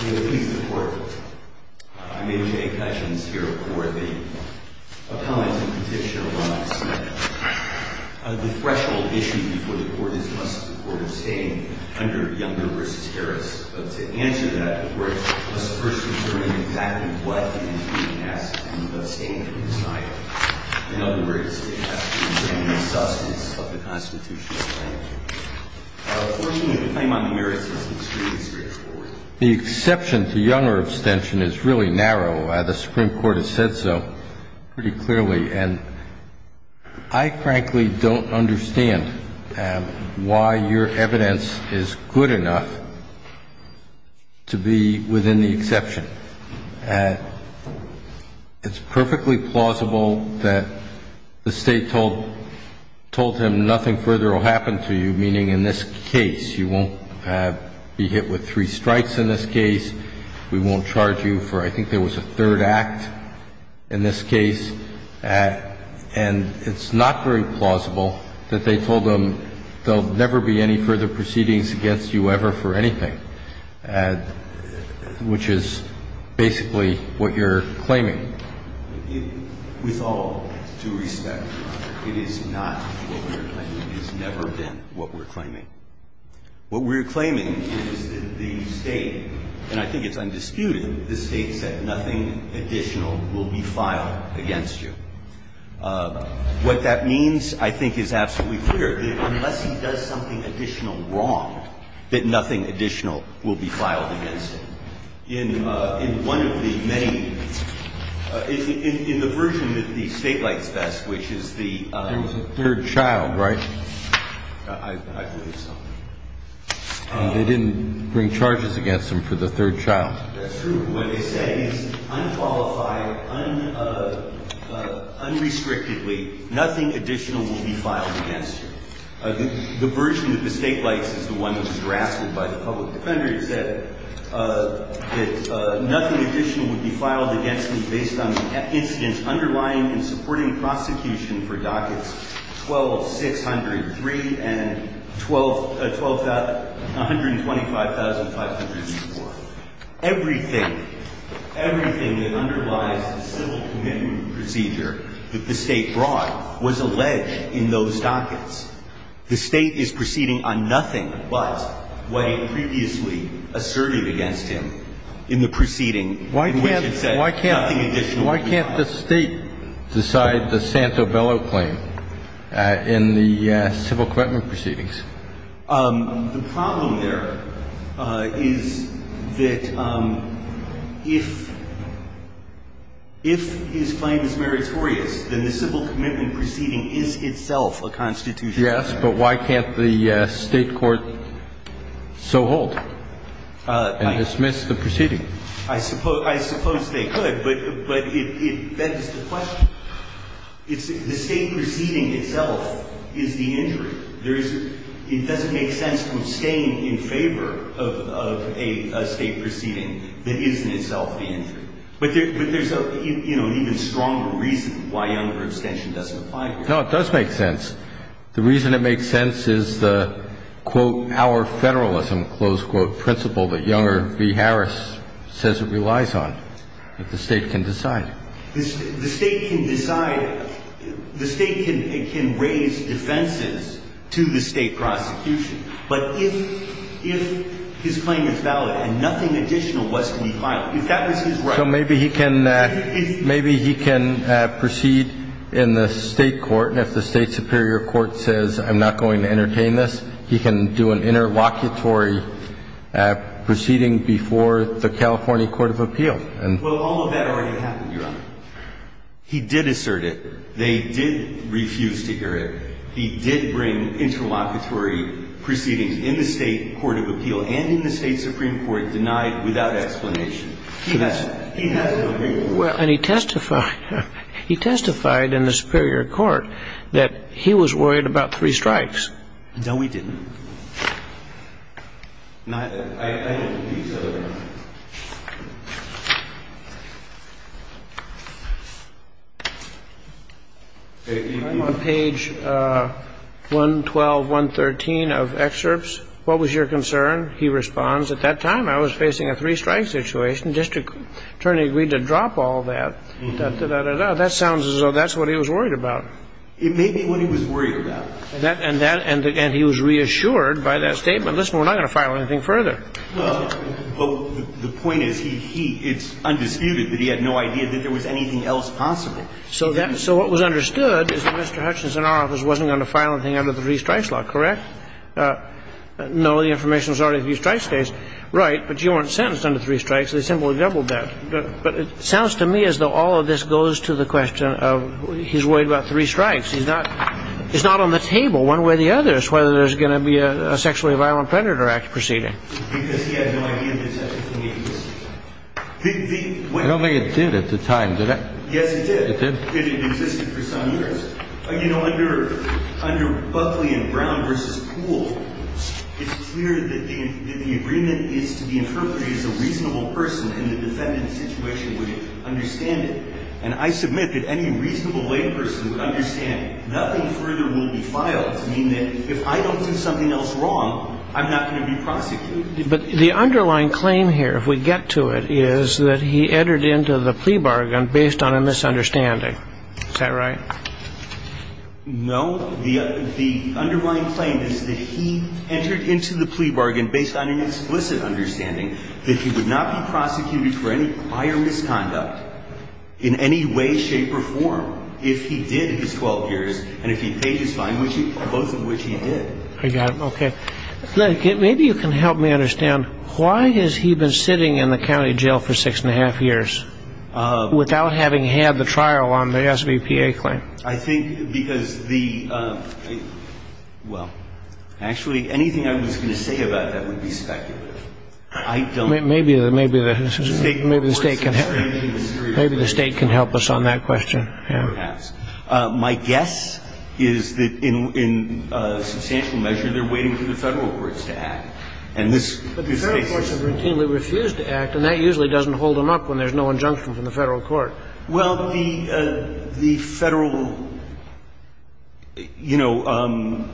We are pleased to report that I, Major Jay Cutchins, here report the appellant in conviction of Ronald Smith. The threshold issue before the court is must the court abstain under Younger v. Harris. To answer that, the court must first determine exactly what he is being asked to abstain from this item. In other words, it has to determine the substance of the constitutional claim. Unfortunately, the claim under Harris is extremely straightforward. The exception to Younger abstention is really narrow. The Supreme Court has said so pretty clearly. And I frankly don't understand why your evidence is good enough to be within the exception. It's perfectly plausible that the State told him nothing further will happen to you, meaning in this case. You won't be hit with three strikes in this case. We won't charge you for I think there was a third act in this case. And it's not very plausible that they told him there will never be any further proceedings against you ever for anything, which is basically what you're claiming. With all due respect, it is not what we're claiming. It has never been what we're claiming. What we're claiming is that the State, and I think it's undisputed, the State said nothing additional will be filed against you. What that means, I think, is absolutely clear. Unless he does something additional wrong, that nothing additional will be filed against him. In one of the many – in the version that the State likes best, which is the – There was a third child, right? I believe so. They didn't bring charges against him for the third child. That's true. What they say is unqualified, unrestrictedly, nothing additional will be filed against you. The version that the State likes is the one that was drafted by the public defender. that nothing additional would be filed against you based on the incidents underlying and supporting prosecution for dockets 12-603 and 12 – 125,504. Everything, everything that underlies the civil commitment procedure that the State brought was alleged in those dockets. The State is proceeding on nothing but what it previously asserted against him in the proceeding, which it said nothing additional would be filed. Why can't the State decide the Santo Bello claim in the civil commitment proceedings? The problem there is that if his claim is meritorious, then the civil commitment proceeding is itself a constitutional matter. Yes, but why can't the State court so hold and dismiss the proceeding? I suppose they could, but that is the question. The State proceeding itself is the injury. It doesn't make sense to abstain in favor of a State proceeding that is in itself the injury. But there's an even stronger reason why younger abstention doesn't apply. No, it does make sense. The reason it makes sense is the, quote, our federalism, close quote, principle that Younger v. Harris says it relies on. The State can decide. The State can decide. The State can raise defenses to the State prosecution. But if his claim is valid and nothing additional was to be filed, if that was his right. So maybe he can proceed in the State court, and if the State superior court says I'm not going to entertain this, he can do an interlocutory proceeding before the California court of appeal. Well, all of that already happened, Your Honor. He did assert it. They did refuse to hear it. He did bring interlocutory proceedings in the State court of appeal and in the State supreme court denied without explanation. He has an opinion. Well, and he testified. He testified in the superior court that he was worried about three strikes. No, he didn't. On page 112, 113 of excerpts, what was your concern? He responds, at that time I was facing a three-strike situation. District attorney agreed to drop all that, da, da, da, da. That sounds as though that's what he was worried about. It may be what he was worried about. He was reassured. He was reassured. He was reassured by that statement. Listen, we're not going to file anything further. Well, the point is he, he, it's undisputed that he had no idea that there was anything else possible. So that, so what was understood is that Mr. Hutchinson in our office wasn't going to file anything under the three-strikes law, correct? No, the information was already in the three-strikes case. Right, but you weren't sentenced under three strikes. They simply doubled that. But it sounds to me as though all of this goes to the question of he's worried about three strikes. He's not, he's not on the table one way or the other as to whether there's going to be a sexually violent predator act proceeding. Because he had no idea there was anything else. I don't think it did at the time, did it? Yes, it did. It did? It existed for some years. You know, under, under Buckley and Brown versus Poole, it's clear that the, that the agreement is to be interpreted as a reasonable person, and the defendant's situation would understand it. And I submit that any reasonable layperson would understand it. Nothing further will be filed to mean that if I don't do something else wrong, I'm not going to be prosecuted. But the underlying claim here, if we get to it, is that he entered into the plea bargain based on a misunderstanding. Is that right? No. The underlying claim is that he entered into the plea bargain based on an explicit understanding that he would not be prosecuted for any prior misconduct in any way, shape, or form if he did his 12 years, and if he paid his fine, both of which he did. I got it. Okay. Maybe you can help me understand, why has he been sitting in the county jail for six and a half years without having had the trial on the SBPA claim? I think because the – well, actually, anything I was going to say about that would be speculative. I don't know. Maybe the State can help us on that question. Perhaps. My guess is that in substantial measure, they're waiting for the Federal courts to act. But the Federal courts have routinely refused to act, and that usually doesn't hold them up when there's no injunction from the Federal court. Well, the Federal – you know,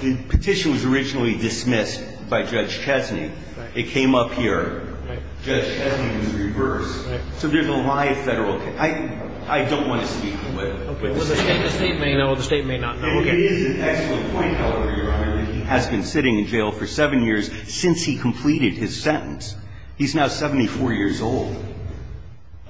the petition was originally dismissed by Judge Chesney. Right. It came up here. Right. Judge Chesney was reversed. Right. So there's a live Federal case. I don't want to speak to it. Okay. Well, the State may know. The State may not know. Okay. It is an excellent point, Your Honor, that he has been sitting in jail for seven years since he completed his sentence. He's now 74 years old.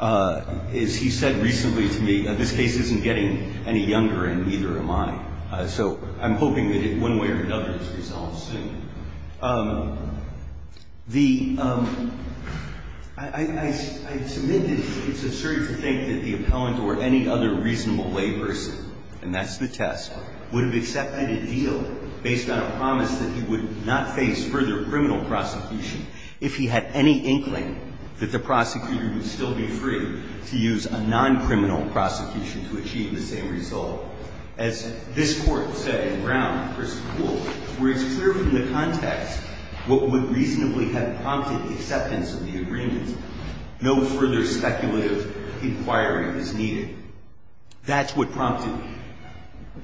As he said recently to me, this case isn't getting any younger, and neither am I. So I'm hoping that in one way or another it's resolved soon. The – I submit that it's absurd to think that the appellant or any other reasonable lay person, and that's the test, would have accepted a deal based on a promise that he would not face further criminal prosecution if he had any inkling that the prosecutor would still be free to use a non-criminal prosecution to achieve the same result. As this Court said in Brown v. Poole, where it's clear from the context what would reasonably have prompted acceptance of the agreement, no further speculative inquiry is needed. That's what prompted it.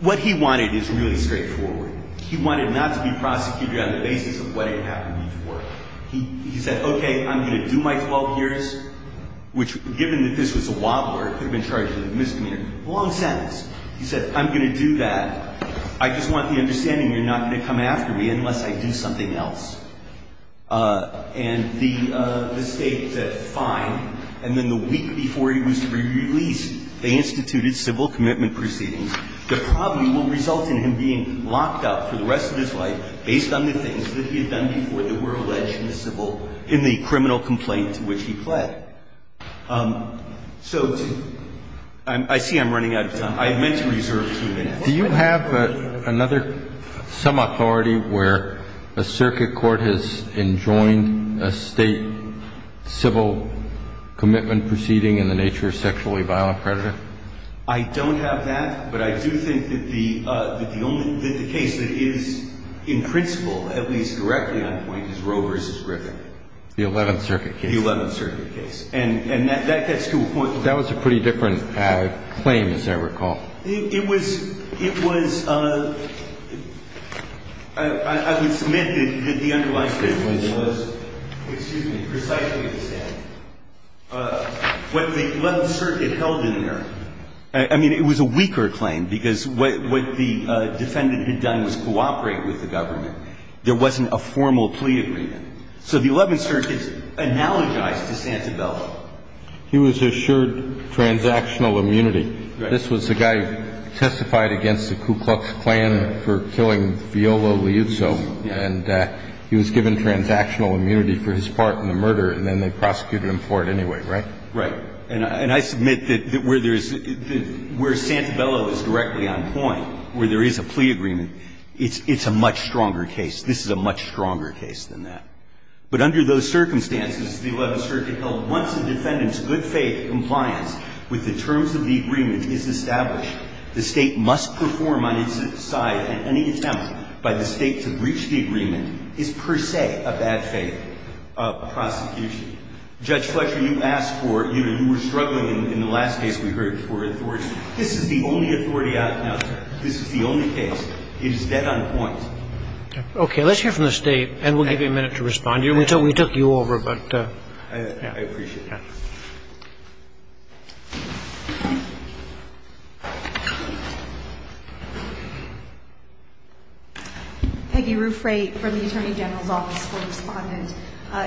What he wanted is really straightforward. He wanted not to be prosecuted on the basis of what had happened before. He said, okay, I'm going to do my 12 years, which, given that this was a wobbler, could have been charged with misdemeanor. Long sentence. He said, I'm going to do that. I just want the understanding you're not going to come after me unless I do something else. And the State said, fine. And then the week before he was to be released, they instituted civil commitment proceedings that probably will result in him being locked up for the rest of his life based on the things that he had done before that were alleged in the criminal complaint to which he pled. So I see I'm running out of time. I meant to reserve two minutes. Do you have another, some authority where a circuit court has enjoined a State civil commitment proceeding in the nature of sexually violent predator? I don't have that, but I do think that the case that is in principle, at least directly on point, is Roe v. Griffin. The 11th Circuit case. The 11th Circuit case. And that gets to a point. That was a pretty different claim, as I recall. It was, it was, I would submit that the underlying claim was, excuse me, precisely the same. What the 11th Circuit held in there, I mean, it was a weaker claim because what the defendant had done was cooperate with the government. There wasn't a formal plea agreement. So the 11th Circuit analogized to Santabella. He was assured transactional immunity. This was the guy who testified against the Ku Klux Klan for killing Viola Liuzzo. And he was given transactional immunity for his part in the murder, and then they prosecuted him for it anyway, right? Right. And I submit that where there's, where Santabella was directly on point, where there is a plea agreement, it's a much stronger case. This is a much stronger case than that. But under those circumstances, the 11th Circuit held, once a defendant's good faith compliance with the terms of the agreement is established, the State must perform on its side, and any attempt by the State to breach the agreement is per se a bad faith prosecution. Judge Fletcher, you asked for, you know, you were struggling in the last case we heard for authority. This is the only authority out there. This is the only case. It is dead on point. Okay. Let's hear from the State, and we'll give you a minute to respond. We took you over, but, yeah. I appreciate that. Peggy Ruffray from the Attorney General's Office for Respondent.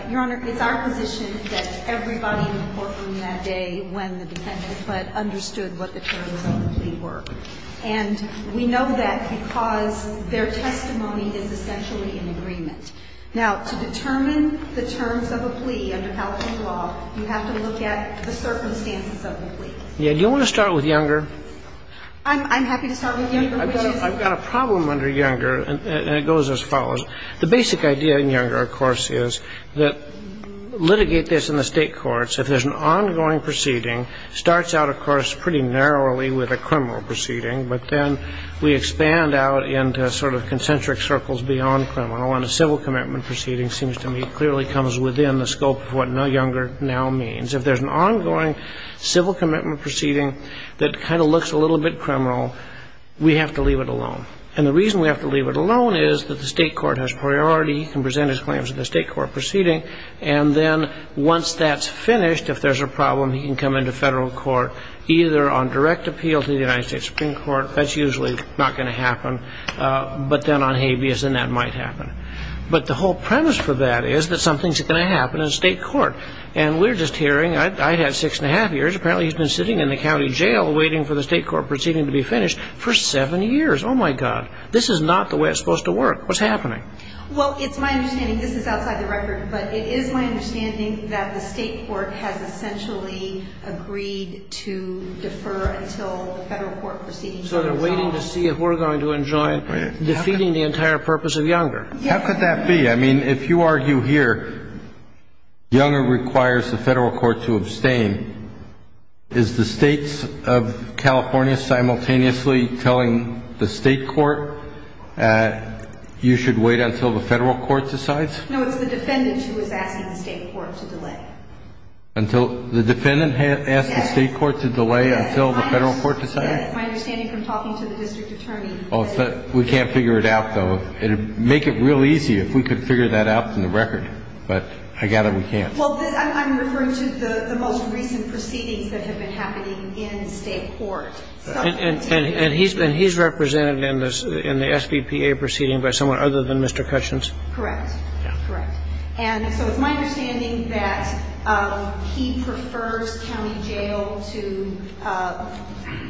Your Honor, it's our position that everybody in the courtroom that day when the defendant but understood what the terms of the plea were. And we know that because their testimony is essentially in agreement. Now, to determine the terms of a plea under California law, you have to look at the circumstances of the plea. Yeah. Do you want to start with Younger? I'm happy to start with Younger. I've got a problem under Younger, and it goes as follows. The basic idea in Younger, of course, is that litigate this in the State courts If there's an ongoing proceeding, it starts out, of course, pretty narrowly with a criminal proceeding, but then we expand out into sort of concentric circles beyond criminal. And a civil commitment proceeding seems to me clearly comes within the scope of what Younger now means. If there's an ongoing civil commitment proceeding that kind of looks a little bit criminal, we have to leave it alone. And the reason we have to leave it alone is that the State court has priority. He can present his claims in the State court proceeding. And then once that's finished, if there's a problem, he can come into federal court, either on direct appeal to the United States Supreme Court. That's usually not going to happen. But then on habeas, then that might happen. But the whole premise for that is that something's going to happen in the State court. And we're just hearing. I had six and a half years. Apparently he's been sitting in the county jail waiting for the State court proceeding to be finished for seven years. Oh, my God. This is not the way it's supposed to work. What's happening? Well, it's my understanding, this is outside the record, but it is my understanding that the State court has essentially agreed to defer until the federal court proceeding is resolved. So they're waiting to see if we're going to enjoin defeating the entire purpose of Younger. Yes. How could that be? I mean, if you argue here Younger requires the federal court to abstain, is the States of California simultaneously telling the State court you should wait until the federal court decides? No, it's the defendant who was asking the State court to delay. The defendant asked the State court to delay until the federal court decided? My understanding from talking to the district attorney. We can't figure it out, though. It would make it real easy if we could figure that out from the record. But I gather we can't. Well, I'm referring to the most recent proceedings that have been happening in State court. And he's represented in the SBPA proceeding by someone other than Mr. Cushins? Correct. Correct. And so it's my understanding that he prefers county jail to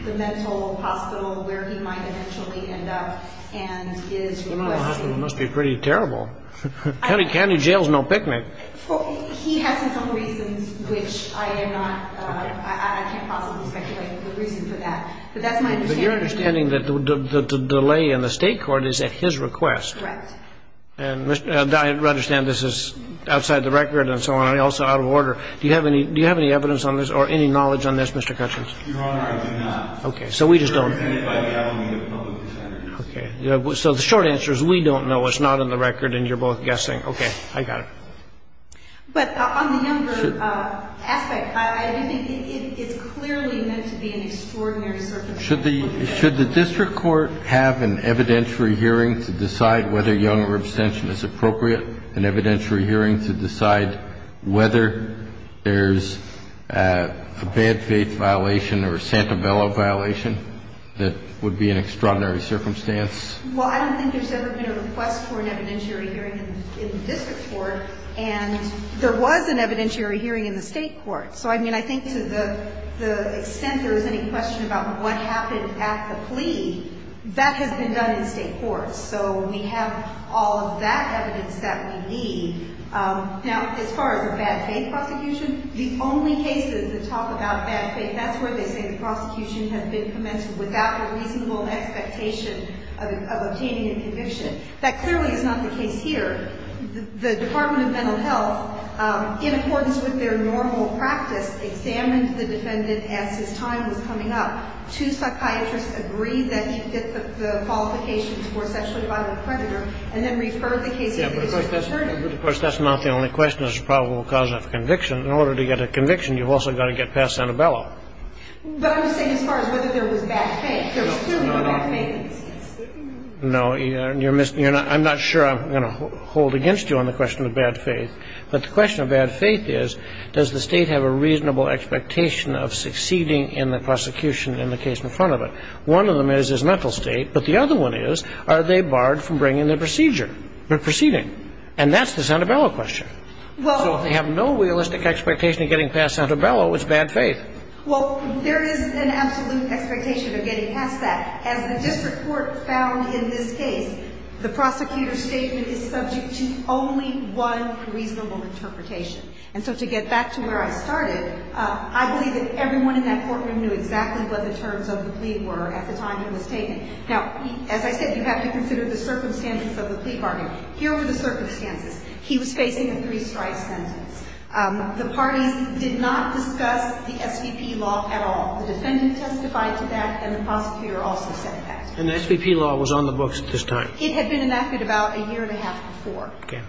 the mental hospital where he might eventually end up and is requesting. The mental hospital must be pretty terrible. County jail is no picnic. He has some reasons which I am not, I can't possibly speculate the reason for that. But that's my understanding. But you're understanding that the delay in the State court is at his request? Correct. And I understand this is outside the record and so on and also out of order. Do you have any evidence on this or any knowledge on this, Mr. Cushins? Your Honor, I do not. Okay. So we just don't. It's represented by the Alameda Public Defender. Okay. So the short answer is we don't know. It's not on the record and you're both guessing. Okay. I got it. But on the number aspect, I do think it's clearly meant to be an extraordinary circumstance. Should the district court have an evidentiary hearing to decide whether young or abstention is appropriate, an evidentiary hearing to decide whether there's a bad faith violation or a Santabella violation that would be an extraordinary circumstance? Well, I don't think there's ever been a request for an evidentiary hearing in the district court. And there was an evidentiary hearing in the State court. So, I mean, I think to the extent there is any question about what happened at the plea, that has been done in State courts. So we have all of that evidence that we need. Now, as far as a bad faith prosecution, the only cases that talk about bad faith, that's where they say the prosecution has been commenced without a reasonable expectation of obtaining a conviction. That clearly is not the case here. The Department of Mental Health, in accordance with their normal practice, examined the defendant as his time was coming up. Two psychiatrists agreed that he fit the qualifications for sexually violent predator and then referred the case to the district attorney. But, of course, that's not the only question. It's a probable cause of conviction. In order to get a conviction, you've also got to get past Santabella. But I'm saying as far as whether there was bad faith. No, I'm not sure I'm going to hold against you on the question of bad faith. But the question of bad faith is, does the State have a reasonable expectation of succeeding in the prosecution in the case in front of it? One of them is his mental state. But the other one is, are they barred from bringing the procedure, the proceeding? And that's the Santabella question. So if they have no realistic expectation of getting past Santabella, it's bad faith. Well, there is an absolute expectation of getting past Santabella. And that's that. As the district court found in this case, the prosecutor's statement is subject to only one reasonable interpretation. And so to get back to where I started, I believe that everyone in that courtroom knew exactly what the terms of the plea were at the time he was taken. Now, as I said, you have to consider the circumstances of the plea bargain. Here were the circumstances. He was facing a three-strike sentence. The parties did not discuss the SVP law at all. The defendant testified to that, and the prosecutor also said that. And the SVP law was on the books at this time? It had been enacted about a year and a half before. Okay.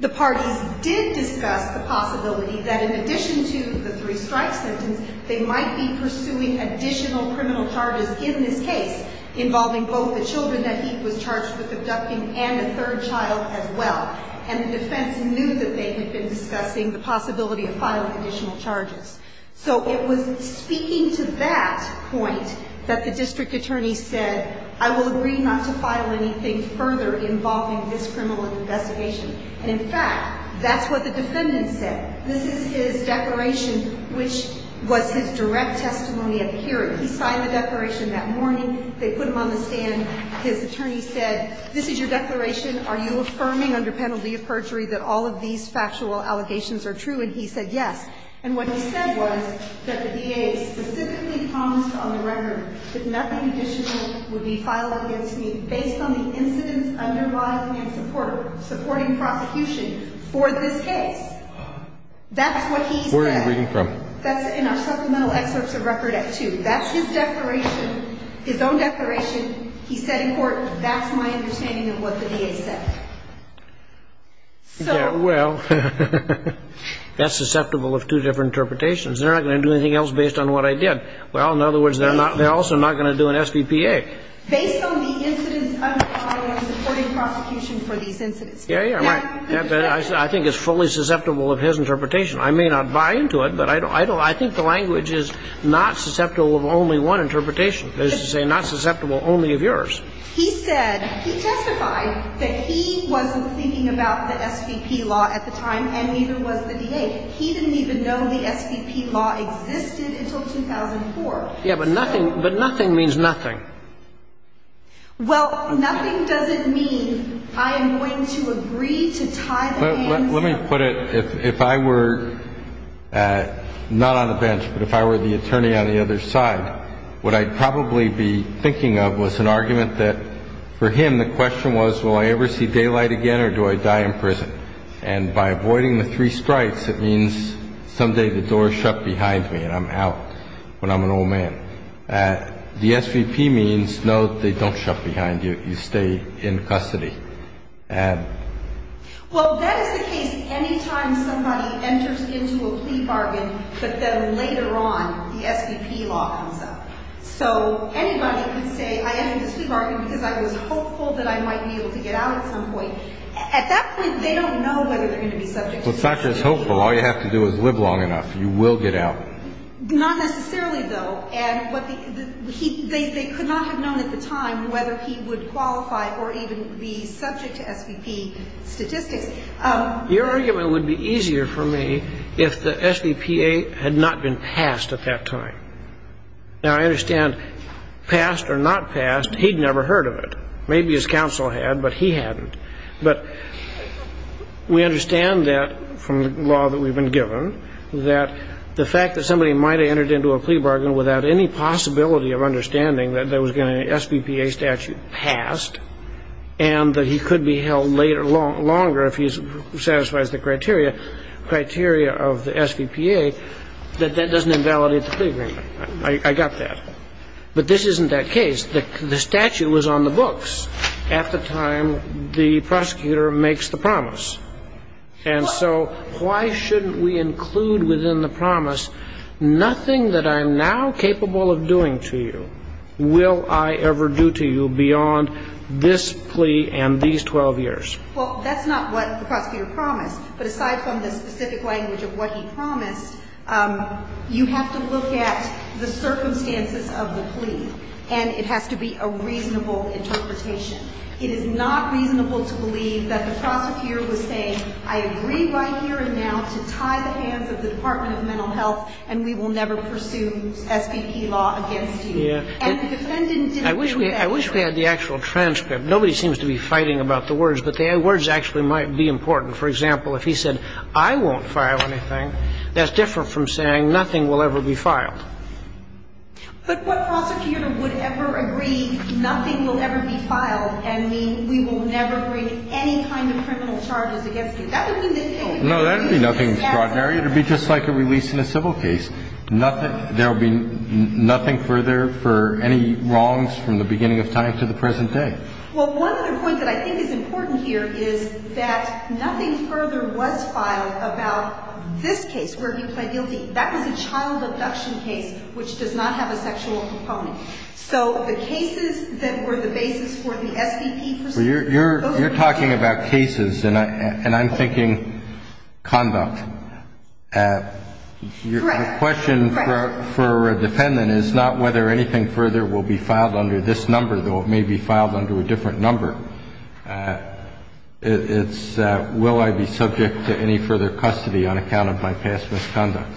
The parties did discuss the possibility that in addition to the three-strike sentence, they might be pursuing additional criminal charges in this case involving both the children that he was charged with abducting and a third child as well. And the defense knew that they had been discussing the possibility of filing additional charges. So it was speaking to that point that the district attorney said, I will agree not to file anything further involving this criminal investigation. And, in fact, that's what the defendant said. This is his declaration, which was his direct testimony at the hearing. He signed the declaration that morning. They put him on the stand. His attorney said, this is your declaration. Are you affirming under penalty of perjury that all of these factual allegations are true? And he said yes. And what he said was that the DA specifically promised on the record that nothing additional would be filed against me based on the incidents underlying and supporting prosecution for this case. That's what he said. Where are you reading from? That's in our supplemental excerpts of record at 2. That's his declaration, his own declaration. He said in court, that's my understanding of what the DA said. Well, that's susceptible of two different interpretations. They're not going to do anything else based on what I did. Well, in other words, they're also not going to do an SBPA. Based on the incidents underlying and supporting prosecution for these incidents. Yeah, yeah. I think it's fully susceptible of his interpretation. I may not buy into it, but I think the language is not susceptible of only one interpretation. That is to say, not susceptible only of yours. He said, he testified that he wasn't thinking about the SBP law at the time and neither was the DA. He didn't even know the SBP law existed until 2004. Yeah, but nothing means nothing. Well, nothing doesn't mean I am going to agree to tie the hands. Let me put it, if I were not on the bench, but if I were the attorney on the other side, what I'd probably be thinking of was an argument that, for him, the question was, will I ever see daylight again or do I die in prison? And by avoiding the three sprites, it means someday the door is shut behind me and I'm out when I'm an old man. The SBP means, no, they don't shut behind you. You stay in custody. Well, that is the case any time somebody enters into a plea bargain, but then later on the SBP law comes up. So anybody could say I entered this plea bargain because I was hopeful that I might be able to get out at some point. At that point, they don't know whether they're going to be subject to the SBP law. Well, it's not just hopeful. All you have to do is live long enough. You will get out. Not necessarily, though. They could not have known at the time whether he would qualify or even be subject to SBP statistics. Your argument would be easier for me if the SBPA had not been passed at that time. Now, I understand passed or not passed, he'd never heard of it. Maybe his counsel had, but he hadn't. But we understand that from the law that we've been given, that the fact that somebody might have entered into a plea bargain without any possibility of understanding that there was going to be an SBPA statute passed and that he could be held longer if he satisfies the criteria of the SBPA, that that doesn't invalidate the plea agreement. I got that. But this isn't that case. The statute was on the books at the time the prosecutor makes the promise. And so why shouldn't we include within the promise nothing that I'm now capable of doing to you will I ever do to you beyond this plea and these 12 years? Well, that's not what the prosecutor promised. But aside from the specific language of what he promised, you have to look at the circumstances of the plea. And it has to be a reasonable interpretation. It is not reasonable to believe that the prosecutor was saying, I agree right here and now to tie the hands of the Department of Mental Health and we will never pursue SBP law against you. And the defendant didn't do that. I wish we had the actual transcript. Nobody seems to be fighting about the words, but the words actually might be important. For example, if he said, I won't file anything, that's different from saying nothing will ever be filed. But what prosecutor would ever agree nothing will ever be filed and mean we will never bring any kind of criminal charges against him? That would mean that he would be exacerbated. No, that would be nothing extraordinary. It would be just like a release in a civil case. There will be nothing further for any wrongs from the beginning of time to the present day. Well, one other point that I think is important here is that nothing further was filed about this case where he pled guilty. That was a child abduction case, which does not have a sexual component. So the cases that were the basis for the SBP procedure. You're talking about cases, and I'm thinking conduct. Correct. The question for a defendant is not whether anything further will be filed under this number, though it may be filed under a different number. It's will I be subject to any further custody on account of my past misconduct?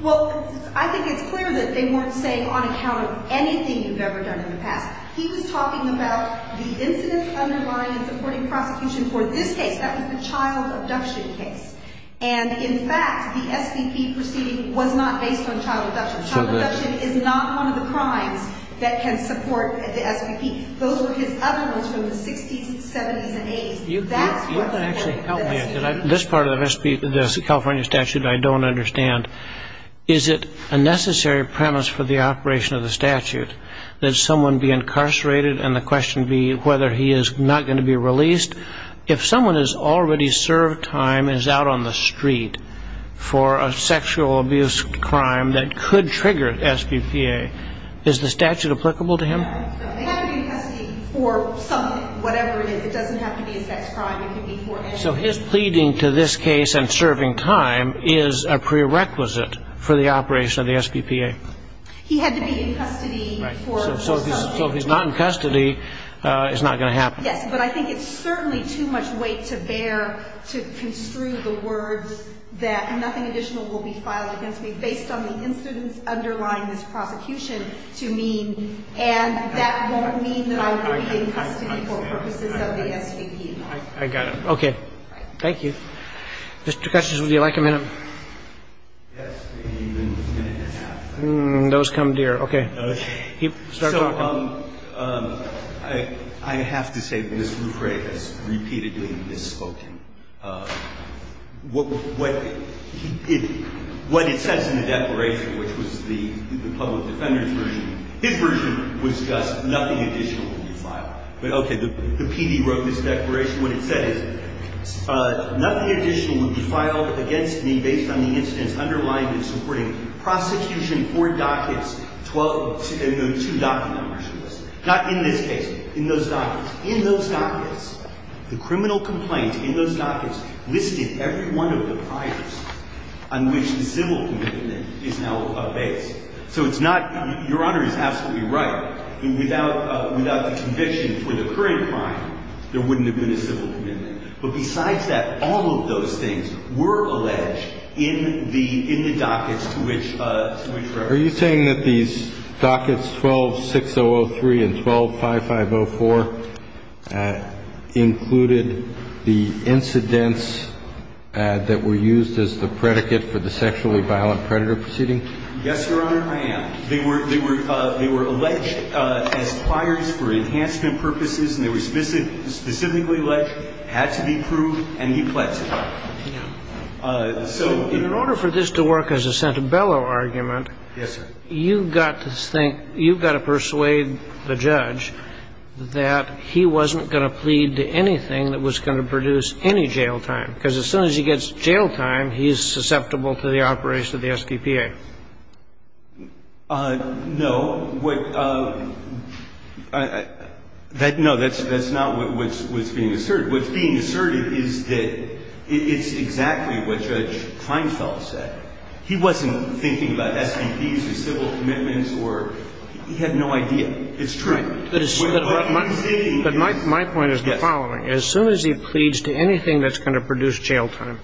Well, I think it's clear that they weren't saying on account of anything you've ever done in the past. He was talking about the incidents underlying and supporting prosecution for this case. That was the child abduction case. And, in fact, the SBP proceeding was not based on child abduction. Child abduction is not one of the crimes that can support the SBP. Those were his other ones from the 60s and 70s and 80s. That's what supported the SBP. This part of the California statute I don't understand. Is it a necessary premise for the operation of the statute that someone be incarcerated and the question be whether he is not going to be released? If someone has already served time and is out on the street for a sexual abuse crime that could trigger SBPA, is the statute applicable to him? They have to be in custody for something, whatever it is. It doesn't have to be a sex crime. It can be for anything. So his pleading to this case and serving time is a prerequisite for the operation of the SBPA? He had to be in custody for something. Right. So if he's not in custody, it's not going to happen. Yes, but I think it's certainly too much weight to bear to construe the words that nothing additional will be filed against me based on the incidents underlying this prosecution to me, and that won't mean that I will be in custody for purposes of the SBP. I got it. Okay. Thank you. Mr. Cutchings, would you like a minute? Yes, maybe a minute and a half. Those come dear. Okay. Start talking. So I have to say Ms. Rufre has repeatedly misspoken. What it says in the declaration, which was the public defender's version, his version was just nothing additional will be filed. But okay, the PD wrote this declaration. What it said is nothing additional will be filed against me based on the incidents underlying and supporting prosecution for dockets, two docket numbers. Not in this case, in those dockets. The criminal complaint in those dockets listed every one of the priors on which the civil commitment is now based. So it's not – Your Honor is absolutely right. Without the conviction for the current crime, there wouldn't have been a civil commitment. But besides that, all of those things were alleged in the dockets to which Rufre included the incidents that were used as the predicate for the sexually violent predator proceeding? Yes, Your Honor, I am. They were alleged as priors for enhancement purposes, and they were specifically alleged, had to be proved, and euthanized. So in order for this to work as a centebello argument, you've got to think, you've got to persuade the judge that he wasn't going to plead to anything that was going to produce any jail time, because as soon as he gets jail time, he's susceptible to the operation of the SDPA. No. No, that's not what's being asserted. What's being asserted is that it's exactly what Judge Kreinfeld said. He wasn't thinking about SDPs or civil commitments or – he had no idea. It's true. But my point is the following. As soon as he pleads to anything that's going to produce jail time,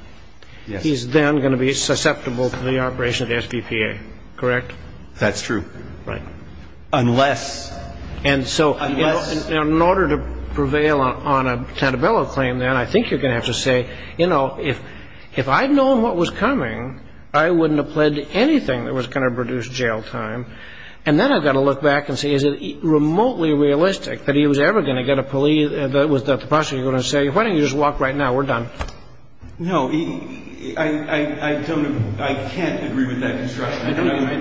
he's then going to be susceptible to the operation of the SDPA, correct? That's true. Right. Unless – And so in order to prevail on a centebello claim, then, I think you're going to have to say, you know, if I'd known what was coming, I wouldn't have pledged anything that was going to produce jail time. And then I've got to look back and say, is it remotely realistic that he was ever going to get a plea that the prosecutor was going to say, why don't you just walk right now, we're done? No, I don't – I can't agree with that construction.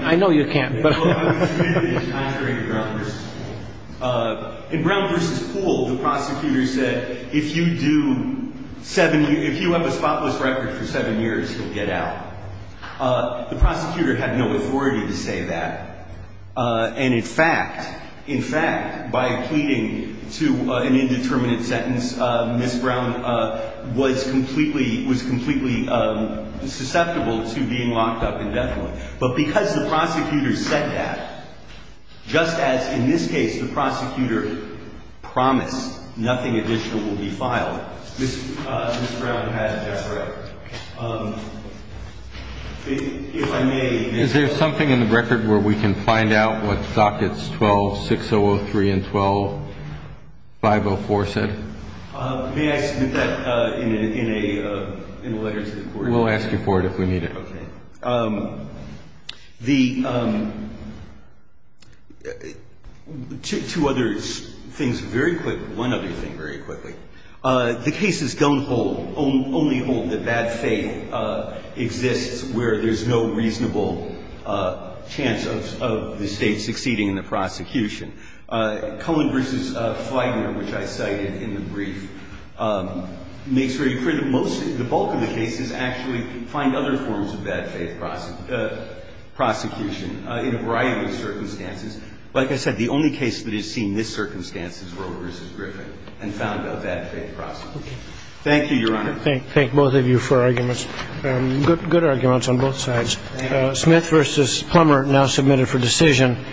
I know you can't. I agree with Brown v. Pool. In Brown v. Pool, the prosecutor said, if you do seven – if you have a spotless record for seven years, you'll get out. The prosecutor had no authority to say that. And in fact, in fact, by pleading to an indeterminate sentence, Ms. Brown was completely – was completely susceptible to being locked up indefinitely. But because the prosecutor said that, just as in this case the prosecutor promised nothing additional will be filed, Ms. Brown had a death record. If I may. Is there something in the record where we can find out what dockets 12-6003 and 12-504 said? May I submit that in a letter to the court? We'll ask you for it if we need it. Okay. The – two other things very quick – one other thing very quickly. The cases don't hold – only hold that bad faith exists where there's no reasonable chance of the State succeeding in the prosecution. Cullen v. Flagner, which I cited in the brief, makes very clear that most – the bulk of the cases actually find other forms of bad faith prosecution in a variety of circumstances. Like I said, the only case that has seen this circumstance is Roe v. Griffin and found a bad faith prosecution. Thank you, Your Honor. Thank both of you for arguments – good arguments on both sides. Thank you. Smith v. Plummer, now submitted for decision.